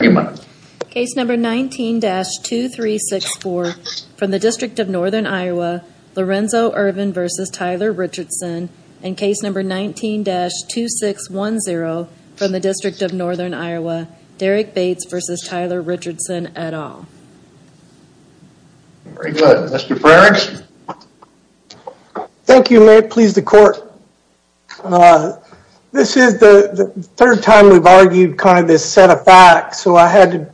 and case number 19-2610 from the District of Northern Iowa, Derrick Bates v. Tyler Richardson et al. Very good. Mr. Frerichs? Thank you. May it please the court, this is the third time we've argued kind of this set of facts, so I had to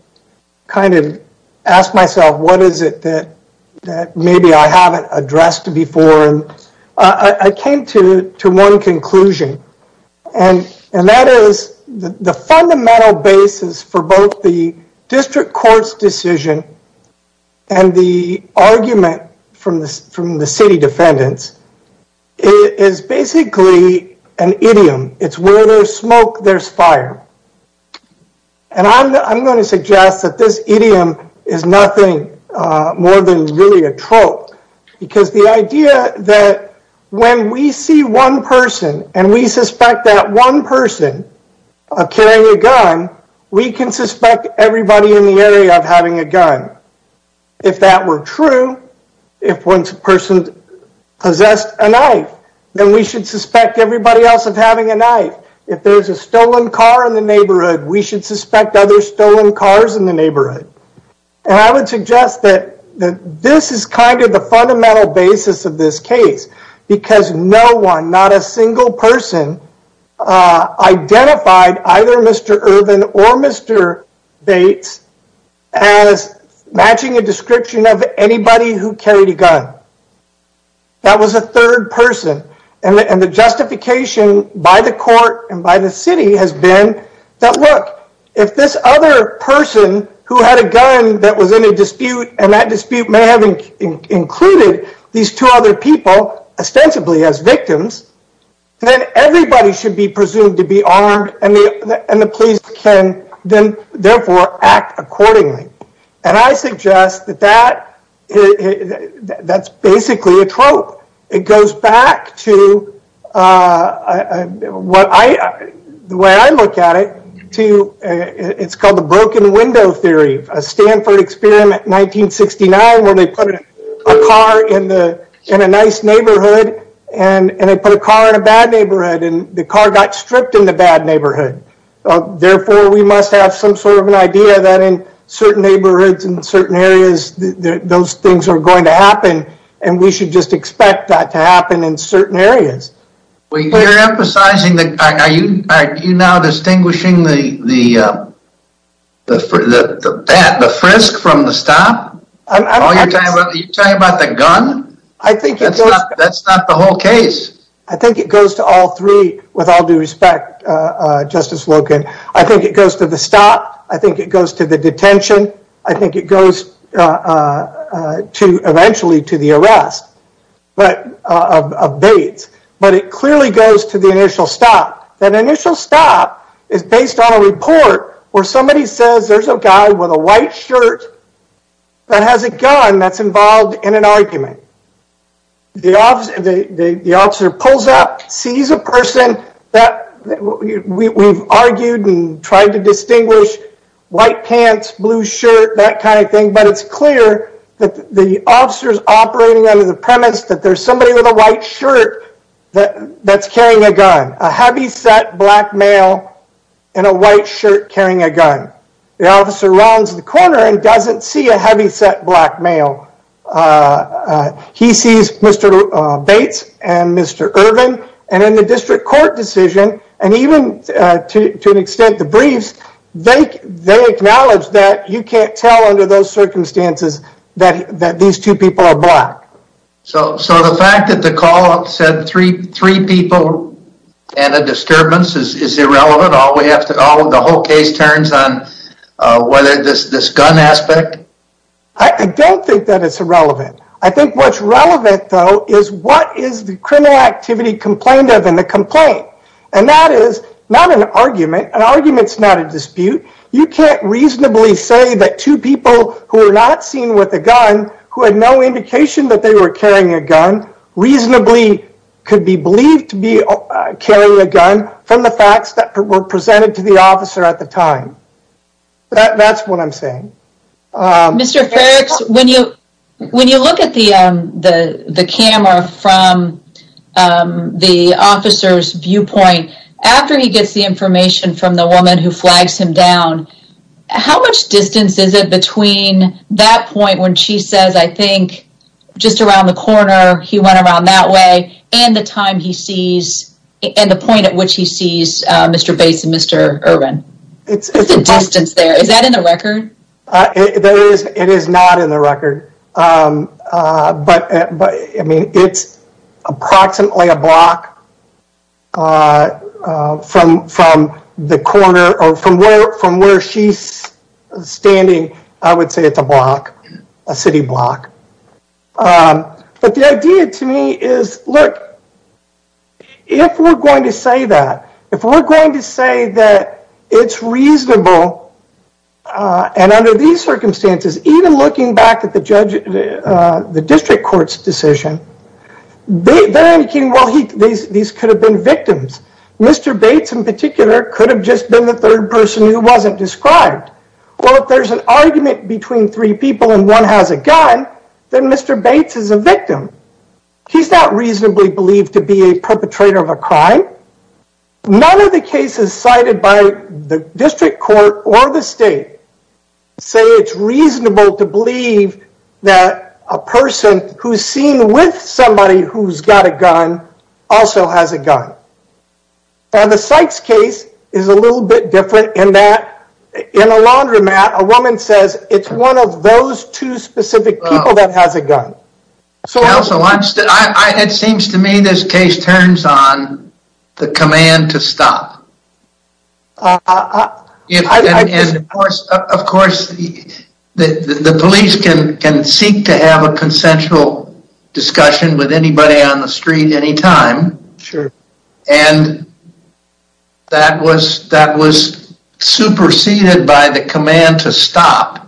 kind of ask myself, what is it that maybe I haven't addressed before? I came to one conclusion, and that is the fundamental basis for both the district court's decision and the argument from the city defendants is basically an idiom. It's where there's smoke, there's fire. And I'm going to suggest that this idiom is nothing more than really a trope, because the idea that when we see one person and we suspect that one person of carrying a gun, we can suspect everybody in the area of having a gun. If that were true, if one person possessed a knife, then we should suspect everybody else of having a knife. If there's a stolen car in the neighborhood, we should suspect other stolen cars in the neighborhood. And I would suggest that this is kind of the fundamental basis of this case, because no one, not a single person, identified either Mr. Irvin or Mr. Bates as matching a description of anybody who carried a gun. That was a third person. And the justification by the court and by the city has been that, look, if this other person who had a gun that was in a dispute and that dispute may have included these two other people, ostensibly as victims, then everybody should be presumed to be armed and the police can then therefore act accordingly. And I suggest that that's basically a trope. It goes back to the way I look at it. It's called the broken window theory, a Stanford experiment, 1969, where they put a car in a nice neighborhood and they put a car in a bad neighborhood and the car got stripped in the bad neighborhood. Therefore, we must have some sort of an idea that in certain neighborhoods and certain And we should just expect that to happen in certain areas. Well, you're emphasizing, are you now distinguishing the frisk from the stop? Are you talking about the gun? That's not the whole case. I think it goes to all three, with all due respect, Justice Loken. I think it goes to the stop. I think it goes to the detention. I think it goes eventually to the arrest of Bates. But it clearly goes to the initial stop. That initial stop is based on a report where somebody says there's a guy with a white shirt that has a gun that's involved in an argument. The officer pulls up, sees a person that we've argued and tried to distinguish, white pants, blue shirt, that kind of thing. But it's clear that the officer's operating under the premise that there's somebody with a white shirt that's carrying a gun. A heavyset black male in a white shirt carrying a gun. The officer rounds the corner and doesn't see a heavyset black male. He sees Mr. Bates and Mr. Irvin. And in the district court decision, and even to an extent the briefs, they acknowledge that you can't tell under those circumstances that these two people are black. So the fact that the call said three people and a disturbance is irrelevant? The whole case turns on whether this gun aspect? I don't think that it's irrelevant. I think what's relevant, though, is what is the criminal activity complained of in the complaint? And that is not an argument. An argument's not a dispute. You can't reasonably say that two people who are not seen with a gun, who had no indication that they were carrying a gun, reasonably could be believed to be carrying a gun from the facts that were presented to the officer at the time. That's what I'm saying. Mr. Ferrix, when you look at the camera from the officer's viewpoint, after he gets the information from the woman who flags him down, how much distance is it between that point when she says, I think, just around the corner, he went around that way, and the time he sees and the point at which he sees Mr. Bates and Mr. Irvin? What's the distance there? Is that in the record? It is not in the record. It's approximately a block from the corner, or from where she's standing, I would say it's a block, a city block. But the idea to me is, look, if we're going to say that, if we're going to say that it's reasonable, and under these circumstances, even looking back at the district court's decision, they're indicating, well, these could have been victims. Mr. Bates, in particular, could have just been the third person who wasn't described. Well, if there's an argument between three people and one has a gun, then Mr. Bates is a victim. He's not reasonably believed to be a perpetrator of a crime. None of the cases cited by the district court or the state say it's reasonable to believe that a person who's seen with somebody who's got a gun also has a gun. And the Sykes case is a little bit different in that, in a laundromat, a woman says it's one of those two specific people that has a gun. Also, it seems to me this case turns on the command to stop. Of course, the police can seek to have a consensual discussion with anybody on the street any time. Sure. And that was superseded by the command to stop.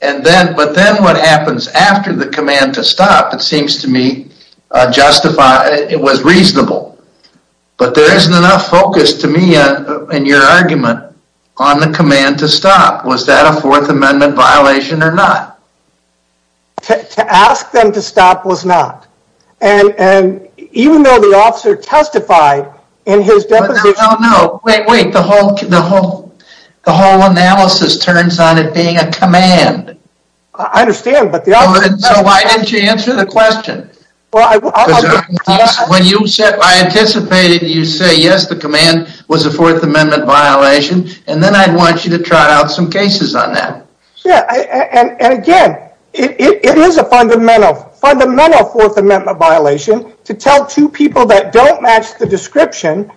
But then what happens after the command to stop, it seems to me, it was reasonable. But there isn't enough focus to me in your argument on the command to stop. Was that a Fourth Amendment violation or not? To ask them to stop was not. And even though the officer testified in his deposition... No, no, no. Wait, wait. The whole analysis turns on it being a command. I understand, but the officer... So why didn't you answer the question? Well, I... Because when you said, I anticipated you say, yes, the command was a Fourth Amendment violation. And then I'd want you to try out some cases on that. Yeah, and again, it is a fundamental Fourth Amendment violation to tell two people that don't match the description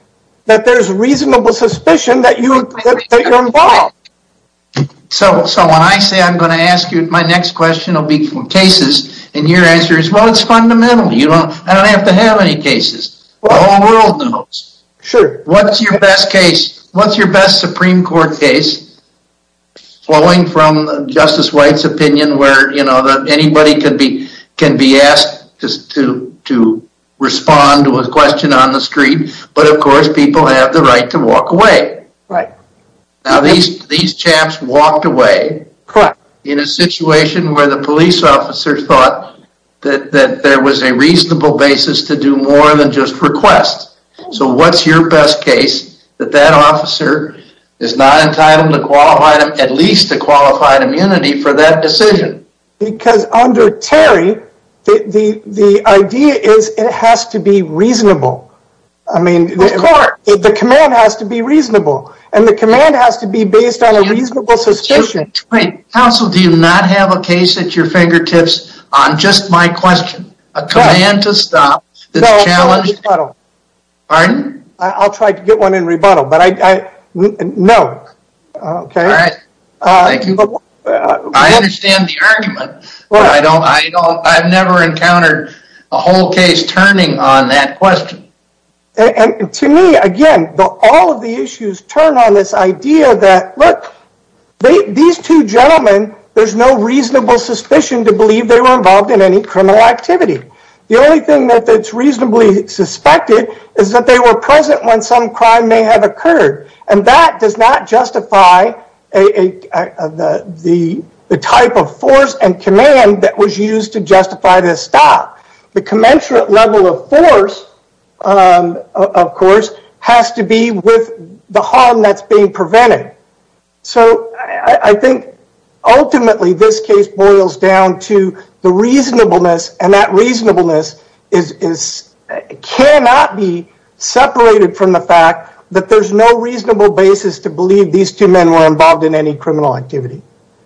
that there's reasonable suspicion that you're involved. So when I say I'm going to ask you my next question will be for cases, and your answer is, well, it's fundamental. I don't have to have any cases. The whole world knows. Sure. What's your best case? Flowing from Justice White's opinion where anybody can be asked to respond to a question on the street, but of course, people have the right to walk away. Right. Now, these chaps walked away in a situation where the police officer thought that there was a reasonable basis to do more than just request. So what's your best case that that officer is not entitled to at least a qualified immunity for that decision? Because under Terry, the idea is it has to be reasonable. Of course. I mean, the command has to be reasonable, and the command has to be based on a reasonable suspicion. Counsel, do you not have a case at your fingertips on just my question? A command to stop that's challenging? Rebuttal. Pardon? I'll try to get one in rebuttal, but no. Okay. All right. Thank you. I understand the argument, but I've never encountered a whole case turning on that question. And to me, again, all of the issues turn on this idea that, look, these two gentlemen, there's no reasonable suspicion to believe they were involved in any criminal activity. The only thing that's reasonably suspected is that they were present when some crime may have occurred. And that does not justify the type of force and command that was used to justify this stop. The commensurate level of force, of course, has to be with the harm that's being prevented. So I think, ultimately, this case boils down to the reasonableness. And that reasonableness cannot be separated from the fact that there's no reasonable basis to believe these two men were involved in any criminal activity.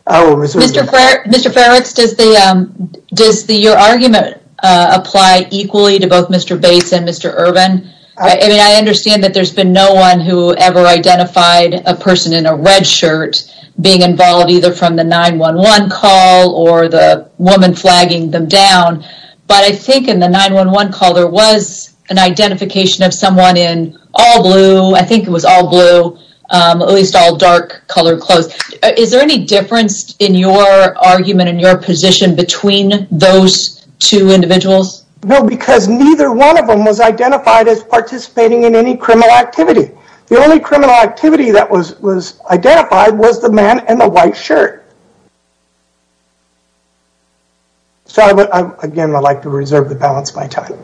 Mr. Farris, does your argument apply equally to both Mr. Bates and Mr. Irvin? I mean, I understand that there's been no one who ever identified a person in a red shirt being involved, either from the 911 call or the woman flagging them down. But I think in the 911 call, there was an identification of someone in all blue. I think it was all blue, at least all dark-colored clothes. Is there any difference in your argument and your position between those two individuals? No, because neither one of them was identified as participating in any criminal activity. The only criminal activity that was identified was the man in the white shirt. So, again, I'd like to reserve the balance of my time.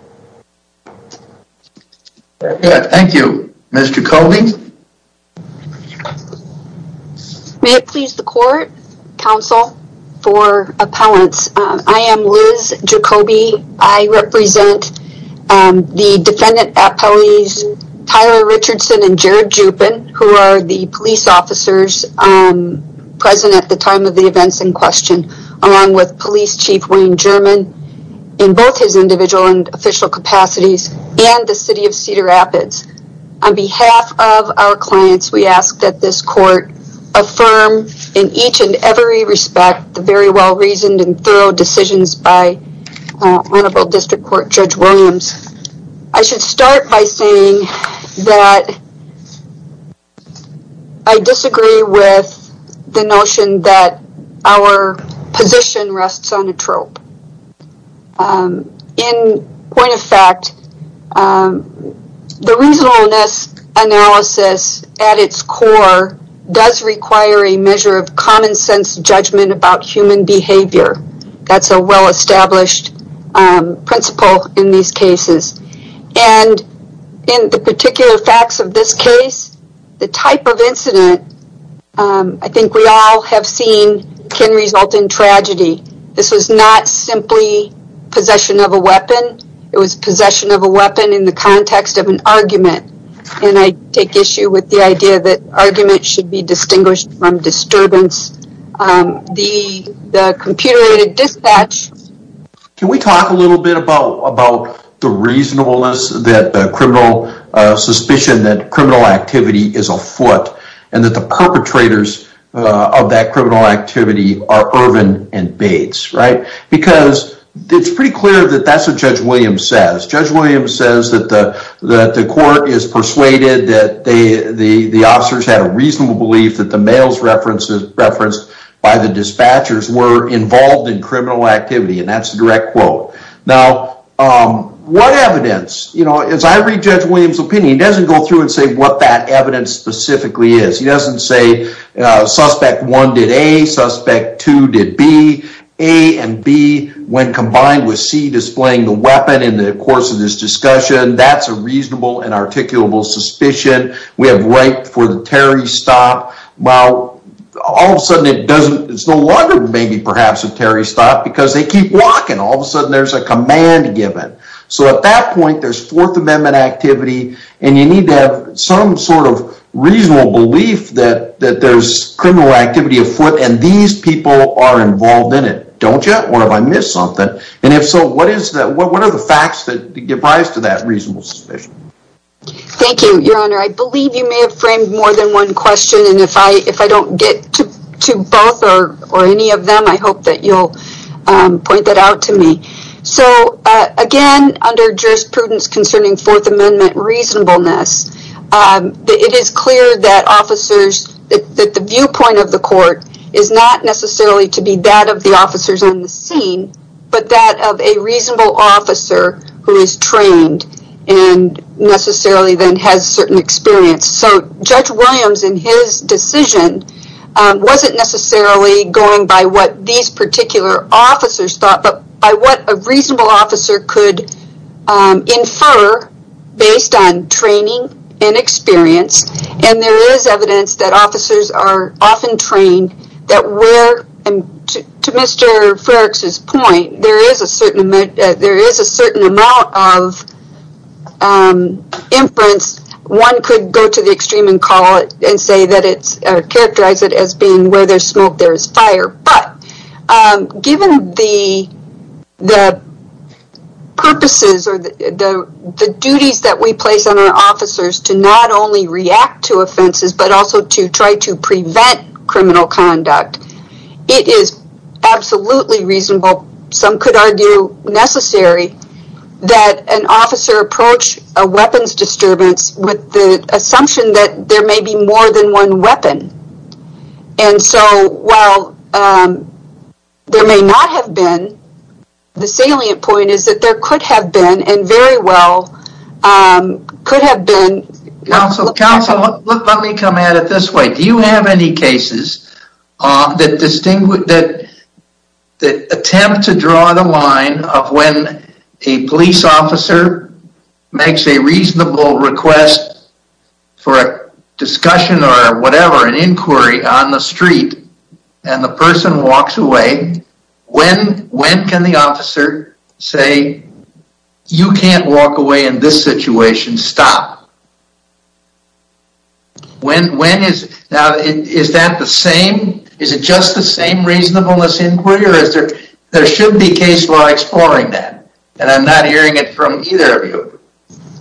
Thank you. Ms. Jacoby? May it please the court, counsel, for appellants, I am Liz Jacoby. I represent the defendant appellees Tyler Richardson and Jared Juppin, who are the police officers present at the time of the events in question, along with Police Chief Wayne German, in both his individual and official capacities, and the City of Cedar Rapids. On behalf of our clients, we ask that this court affirm in each and every respect the very well-reasoned and thorough decisions by Honorable District Court Judge Williams. I should start by saying that I disagree with the notion that our position rests on a trope. In point of fact, the reasonableness analysis, at its core, does require a measure of common sense judgment about human behavior. That's a well-established principle in these cases. And in the particular facts of this case, the type of incident, I think we all have seen, can result in tragedy. This was not simply possession of a weapon. It was possession of a weapon in the context of an argument. And I take issue with the idea that arguments should be distinguished from disturbance. The computer-aided dispatch... Can we talk a little bit about the reasonableness that criminal suspicion, that criminal activity is afoot, and that the perpetrators of that criminal activity are Irvin and Bates, right? Because it's pretty clear that that's what Judge Williams says. Judge Williams says that the court is persuaded that the officers had a reasonable belief that the males referenced by the dispatchers were involved in criminal activity. And that's a direct quote. Now, what evidence? You know, as I read Judge Williams' opinion, he doesn't go through and say what that evidence specifically is. He doesn't say suspect 1 did A, suspect 2 did B. A and B, when combined with C displaying the weapon in the course of this discussion, that's a reasonable and articulable suspicion. We have right for the Terry stop. Well, all of a sudden, it's no longer maybe perhaps a Terry stop, because they keep walking. All of a sudden, there's a command given. So at that point, there's Fourth Amendment activity, and you need to have some sort of reasonable belief that there's criminal activity afoot, and these people are involved in it, don't you? Or have I missed something? And if so, what are the facts that give rise to that reasonable suspicion? Thank you, Your Honor. I believe you may have framed more than one question, and if I don't get to both or any of them, I hope that you'll point that out to me. So, again, under jurisprudence concerning Fourth Amendment reasonableness, it is clear that officers, that the viewpoint of the court, is not necessarily to be that of the officers on the scene, but that of a reasonable officer who is trained and necessarily then has certain experience. So Judge Williams, in his decision, wasn't necessarily going by what these particular officers thought, but by what a reasonable officer could infer based on training and experience, and there is evidence that officers are often trained that where, and to Mr. Frerichs' point, there is a certain amount of inference, one could go to the extreme and call it and say that it's, or characterize it as being where there's smoke, there's fire. But given the purposes or the duties that we place on our officers to not only react to offenses, but also to try to prevent criminal conduct, it is absolutely reasonable, some could argue necessary, that an officer approach a weapons disturbance with the assumption that there may be more than one weapon. And so while there may not have been, the salient point is that there could have been and very well could have been. Counsel, let me come at it this way. Do you have any cases that attempt to draw the line of when a police officer makes a reasonable request for a discussion or whatever, an inquiry on the street, and the person walks away, when can the officer say, you can't walk away in this situation, stop? When is, now is that the same, is it just the same reasonableness inquiry, or is there, there should be case law exploring that, and I'm not hearing it from either of you.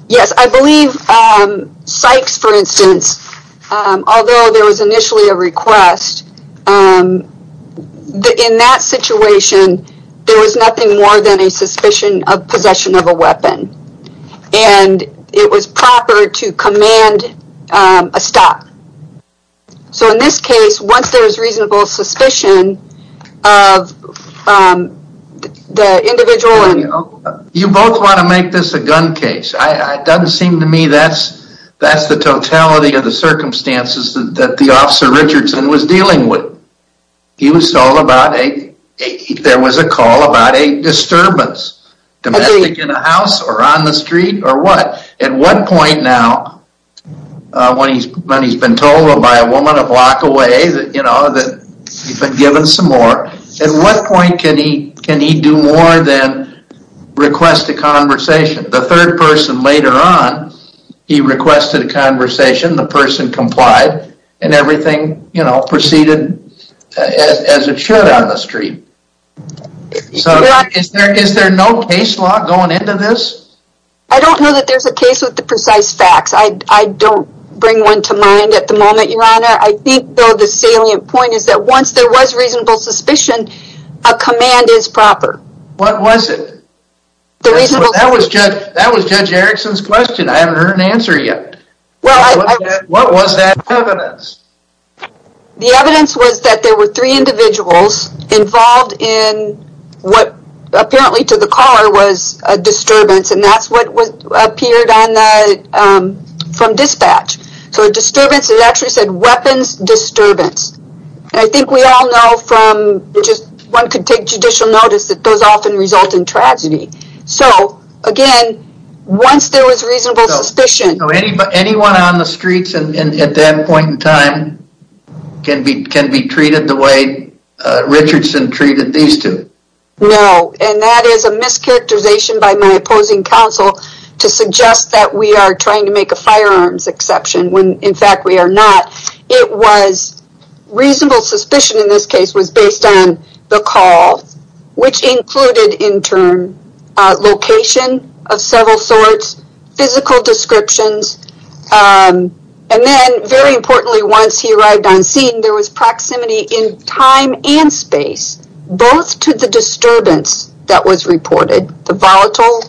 Yes, I believe Sykes, for instance, although there was initially a request, in that situation, there was nothing more than a suspicion of possession of a weapon. And it was proper to command a stop. So in this case, once there was reasonable suspicion of the individual. You both want to make this a gun case. It doesn't seem to me that's the totality of the circumstances that the officer Richardson was dealing with. He was told about a, there was a call about a disturbance, domestic in a house or on the street or what. At what point now, when he's been told by a woman a block away, that he's been given some more, at what point can he do more than request a conversation? The third person later on, he requested a conversation, the person complied, and everything proceeded as it should on the street. So is there no case law going into this? I don't know that there's a case with the precise facts. I don't bring one to mind at the moment, your honor. I think though the salient point is that once there was reasonable suspicion, a command is proper. What was it? That was Judge Erickson's question. I haven't heard an answer yet. What was that evidence? The evidence was that there were three individuals involved in what, apparently to the caller was a disturbance, and that's what appeared on the, from dispatch. So a disturbance, it actually said weapons disturbance. And I think we all know from, just one could take judicial notice that those often result in tragedy. So again, once there was reasonable suspicion. So anyone on the streets at that point in time can be treated the way Richardson treated these two? No, and that is a mischaracterization by my opposing counsel to suggest that we are trying to make a firearms exception, when in fact we are not. It was reasonable suspicion in this case was based on the call, which included in turn location of several sorts, physical descriptions, and then very importantly, once he arrived on scene, there was proximity in time and space, both to the disturbance that was reported, the volatile,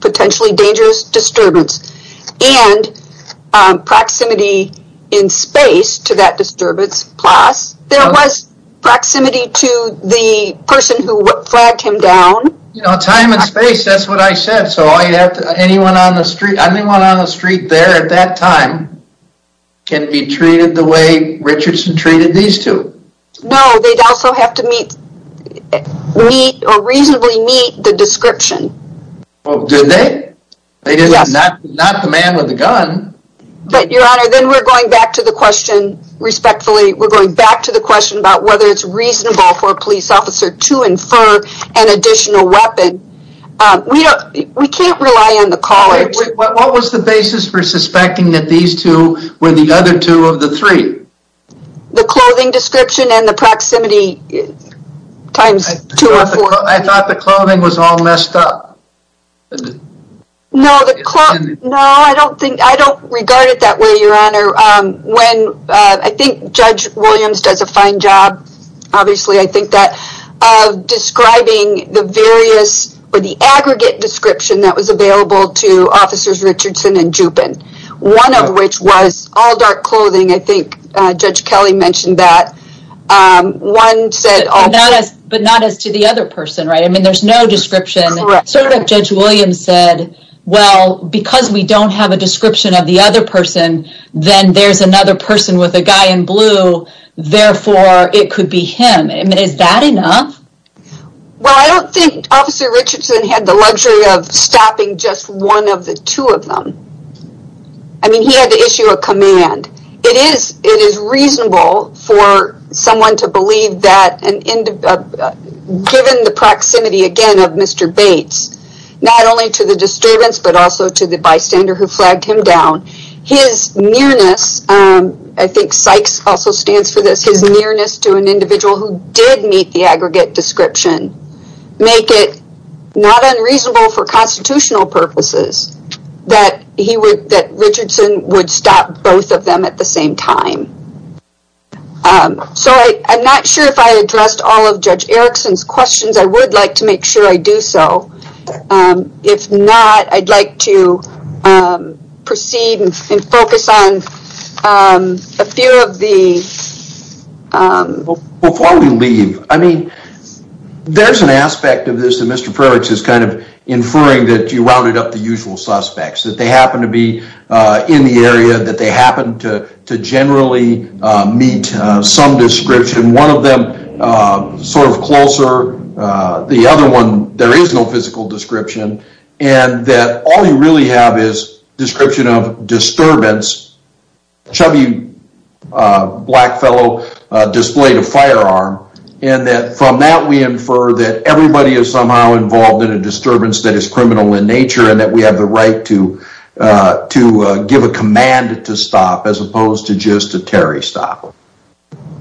potentially dangerous disturbance, and proximity in space to that disturbance, plus there was proximity to the person who flagged him down. You know, time and space, that's what I said. So anyone on the street, anyone on the street there at that time can be treated the way No, they'd also have to meet, or reasonably meet the description. Did they? Yes. Not the man with the gun. But Your Honor, then we're going back to the question, respectfully, we're going back to the question about whether it's reasonable for a police officer to infer an additional weapon. We can't rely on the call. What was the basis for suspecting that these two were the other two of the three? The clothing description and the proximity times two or four. I thought the clothing was all messed up. No, I don't regard it that way, Your Honor. I think Judge Williams does a fine job, obviously, I think that, of describing the various, or the aggregate description that was available to officers Richardson and Juppin, one of which was all dark clothing. I think Judge Kelly mentioned that. But not as to the other person, right? I mean, there's no description. Correct. Sort of Judge Williams said, well, because we don't have a description of the other person, then there's another person with a guy in blue, therefore it could be him. I mean, is that enough? Well, I don't think Officer Richardson had the luxury of stopping just one of the two of them. I mean, he had to issue a command. It is reasonable for someone to believe that, given the proximity, again, of Mr. Bates, not only to the disturbance but also to the bystander who flagged him down. His nearness, I think Sykes also stands for this, his nearness to an individual who did meet the aggregate description, make it not unreasonable for constitutional purposes that Richardson would stop both of them at the same time. So I'm not sure if I addressed all of Judge Erickson's questions. I would like to make sure I do so. If not, I'd like to proceed and focus on a few of the… There's an aspect of this that Mr. Prerich is kind of inferring that you rounded up the usual suspects, that they happen to be in the area, that they happen to generally meet some description, one of them sort of closer, the other one, there is no physical description, and that all you really have is description of disturbance, chubby black fellow displayed a firearm, and that from that we infer that everybody is somehow involved in a disturbance that is criminal in nature and that we have the right to give a command to stop as opposed to just a Terry stop.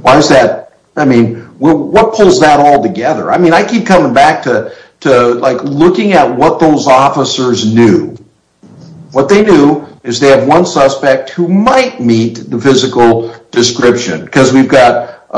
Why is that? I mean, what pulls that all together? I mean, I keep coming back to looking at what those officers knew. What they knew is they have one suspect who might meet the physical description because we've got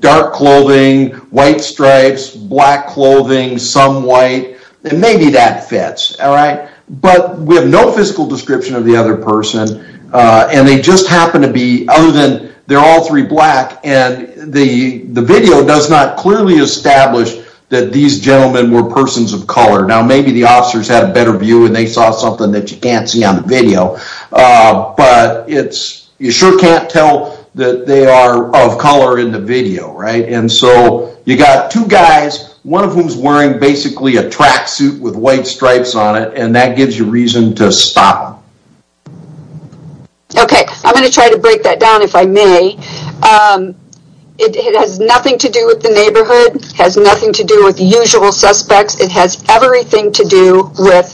dark clothing, white stripes, black clothing, some white, and maybe that fits, all right? But we have no physical description of the other person, and they just happen to be, other than they're all three black, and the video does not clearly establish that these gentlemen were persons of color. Now, maybe the officers had a better view and they saw something that you can't see on the video, but you sure can't tell that they are of color in the video, right? And so you've got two guys, one of whom is wearing basically a track suit with white stripes on it, and that gives you reason to stop. Okay, I'm going to try to break that down if I may. It has nothing to do with the neighborhood. It has nothing to do with usual suspects. It has everything to do with,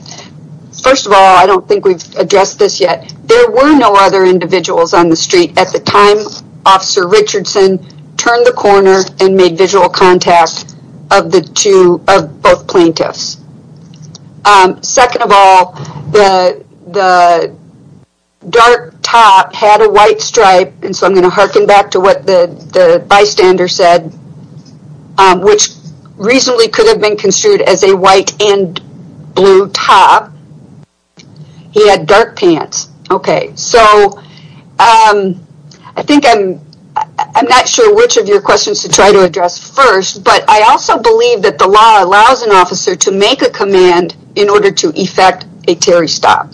first of all, I don't think we've addressed this yet, there were no other individuals on the street at the time Officer Richardson turned the corner and made visual contact of both plaintiffs. Second of all, the dark top had a white stripe, and so I'm going to hearken back to what the bystander said, which reasonably could have been construed as a white and blue top. He had dark pants. Okay, so I think I'm not sure which of your questions to try to address first, but I also believe that the law allows an officer to make a command in order to effect a Terry Stop.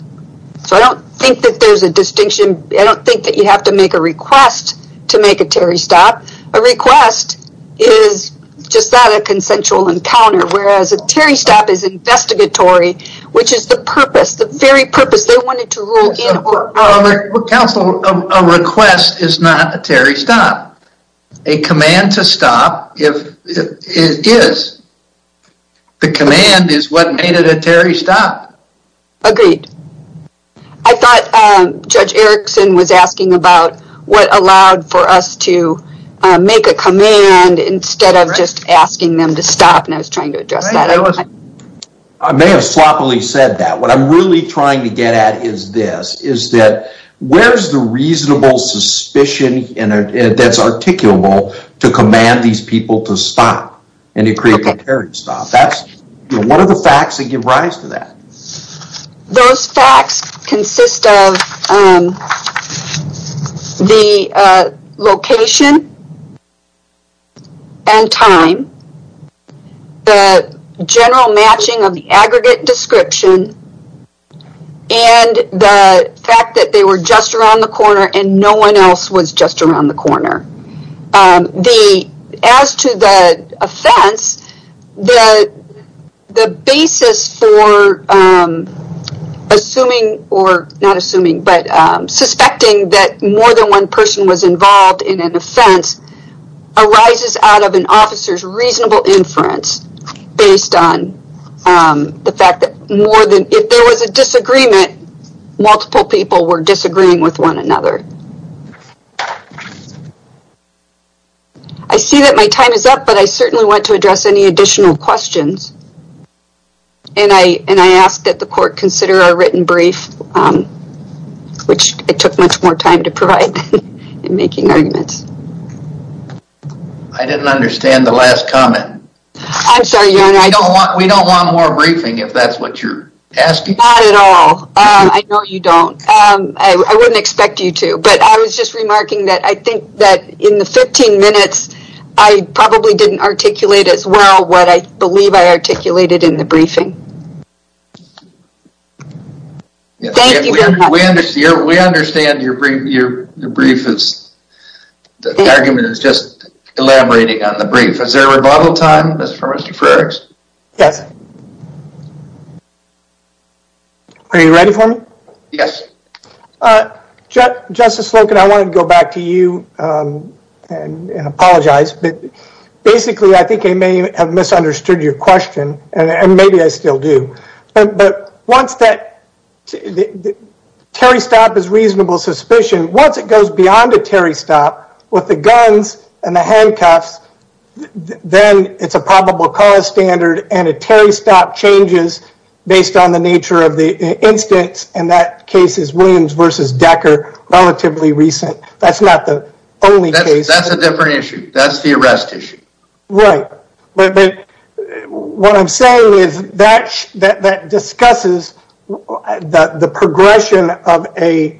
So I don't think that there's a distinction. I don't think that you have to make a request to make a Terry Stop. A request is just not a consensual encounter, whereas a Terry Stop is investigatory, which is the purpose, the very purpose they wanted to rule in or out. Counsel, a request is not a Terry Stop. A command to stop is. The command is what made it a Terry Stop. Agreed. I thought Judge Erickson was asking about what allowed for us to make a command instead of just asking them to stop, and I was trying to address that. I may have sloppily said that. What I'm really trying to get at is this, is that where's the reasonable suspicion that's articulable to command these people to stop and to create a Terry Stop? What are the facts that give rise to that? Those facts consist of the location and time, the general matching of the aggregate description, and the fact that they were just around the corner and no one else was just around the corner. As to the offense, the basis for assuming or not assuming, but suspecting that more than one person was involved in an offense arises out of an officer's reasonable inference based on the fact that if there was a disagreement, multiple people were disagreeing with one another. I see that my time is up, but I certainly want to address any additional questions, and I ask that the court consider our written brief, which it took much more time to provide than making arguments. I didn't understand the last comment. I'm sorry, Your Honor. We don't want more briefing if that's what you're asking. Not at all. I know you don't. I wouldn't expect you to, but I was just remarking that I think that in the 15 minutes, I probably didn't articulate as well what I believe I articulated in the briefing. Thank you very much. We understand your brief. The argument is just elaborating on the brief. Is there a rebuttal time for Mr. Frerichs? Yes. Are you ready for me? Yes. Justice Slocum, I want to go back to you and apologize, but basically, I think I may have misunderstood your question, and maybe I still do. Terry Stop is reasonable suspicion. Once it goes beyond a Terry Stop, with the guns and the handcuffs, then it's a probable cause standard, and a Terry Stop changes based on the nature of the instance, and that case is Williams versus Decker, relatively recent. That's not the only case. That's a different issue. That's the arrest issue. Right. What I'm saying is that discusses the progression of a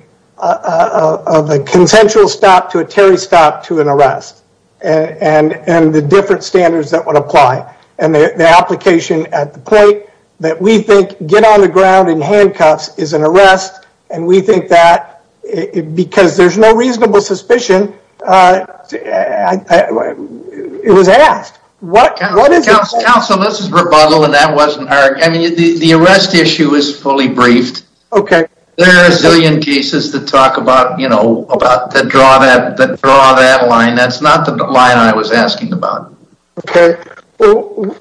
consensual stop to a Terry Stop to an arrest, and the different standards that would apply, and the application at the point that we think get on the ground in handcuffs is an arrest, and we think that, because there's no reasonable suspicion, it was asked. Council, this is rebuttal, and that wasn't Eric. I mean, the arrest issue is fully briefed. Okay. There are a zillion cases that talk about, you know, about the draw that line. That's not the line I was asking about. Okay. Well,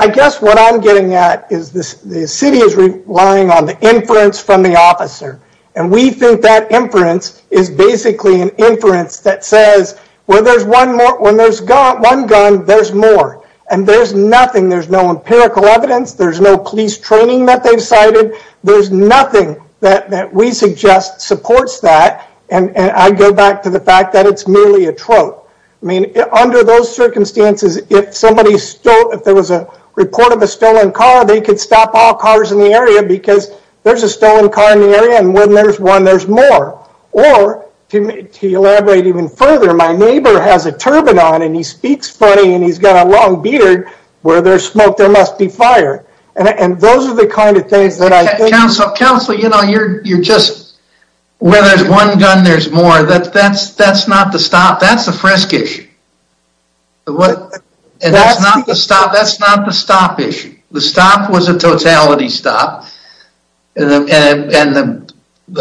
I guess what I'm getting at is this. The city is relying on the inference from the officer, and we think that inference is basically an inference that says, well, there's one more when there's got one gun, there's more, and there's nothing. There's no empirical evidence. There's no police training that they've cited. There's nothing that we suggest supports that. And I go back to the fact that it's merely a trope. I mean, under those circumstances, if somebody stole, if there was a report of a stolen car, they could stop all cars in the area because there's a stolen car in the area. And when there's one, there's more, or to elaborate even further, my neighbor has a turban on and he speaks funny and he's got a long beard where there's smoke, there must be fire. And those are the kinds of things that I think. Counsel, counsel, you know, you're, you're just where there's one gun, there's more that that's, that's not the stop. That's the frisk issue. What? And that's not the stop. That's not the stop issue. The stop was a totality stop. And the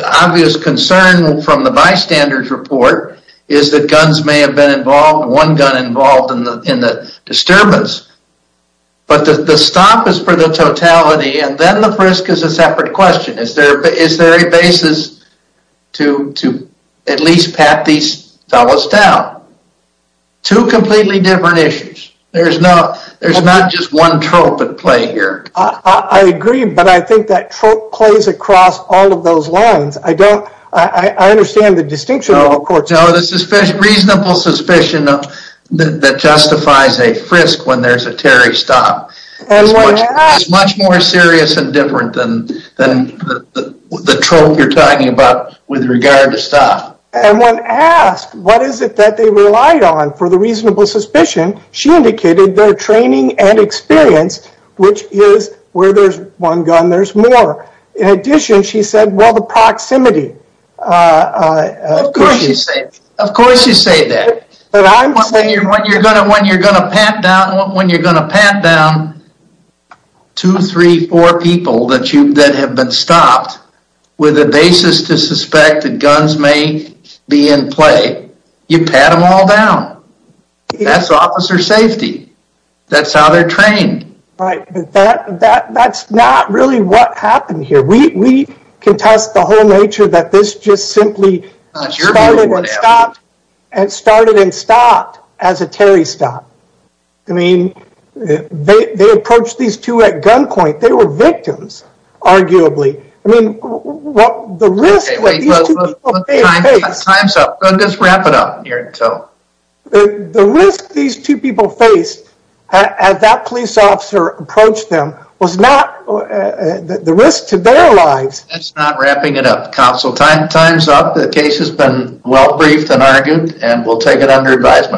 obvious concern from the bystanders report is that guns may have been involved, one gun involved in the, in the disturbance. But the stop is for the totality. And then the frisk is a separate question. Is there, is there a basis to, to at least pat these fellows down? Two completely different issues. There's no, there's not just one trope at play here. I agree, but I think that trope plays across all of those lines. I don't, I understand the distinction of all courts. No, this is reasonable suspicion that justifies a frisk when there's a Terry stop. It's much more serious and different than, than the trope you're talking about with regard to stop. And when asked, what is it that they relied on for the reasonable suspicion? She indicated their training and experience, which is where there's one gun, there's more. In addition, she said, well, the proximity. Of course you say that. When you're going to, when you're going to pat down, when you're going to pat down two, three, four people that you, that have been stopped with a basis to suspect that guns may be in play, you pat them all down. That's officer safety. That's how they're trained. Right. But that, that that's not really what happened here. We, we can tell us the whole nature that this just simply started and stopped as a Terry stop. I mean, they, they approached these two at gunpoint. They were victims, arguably. I mean, the risk. Time's up. Just wrap it up. So the risk these two people face as that police officer approached them was not the risk to their lives. It's not wrapping it up. Counsel time. Time's up. The case has been well briefed and argued and we'll take it under advisement.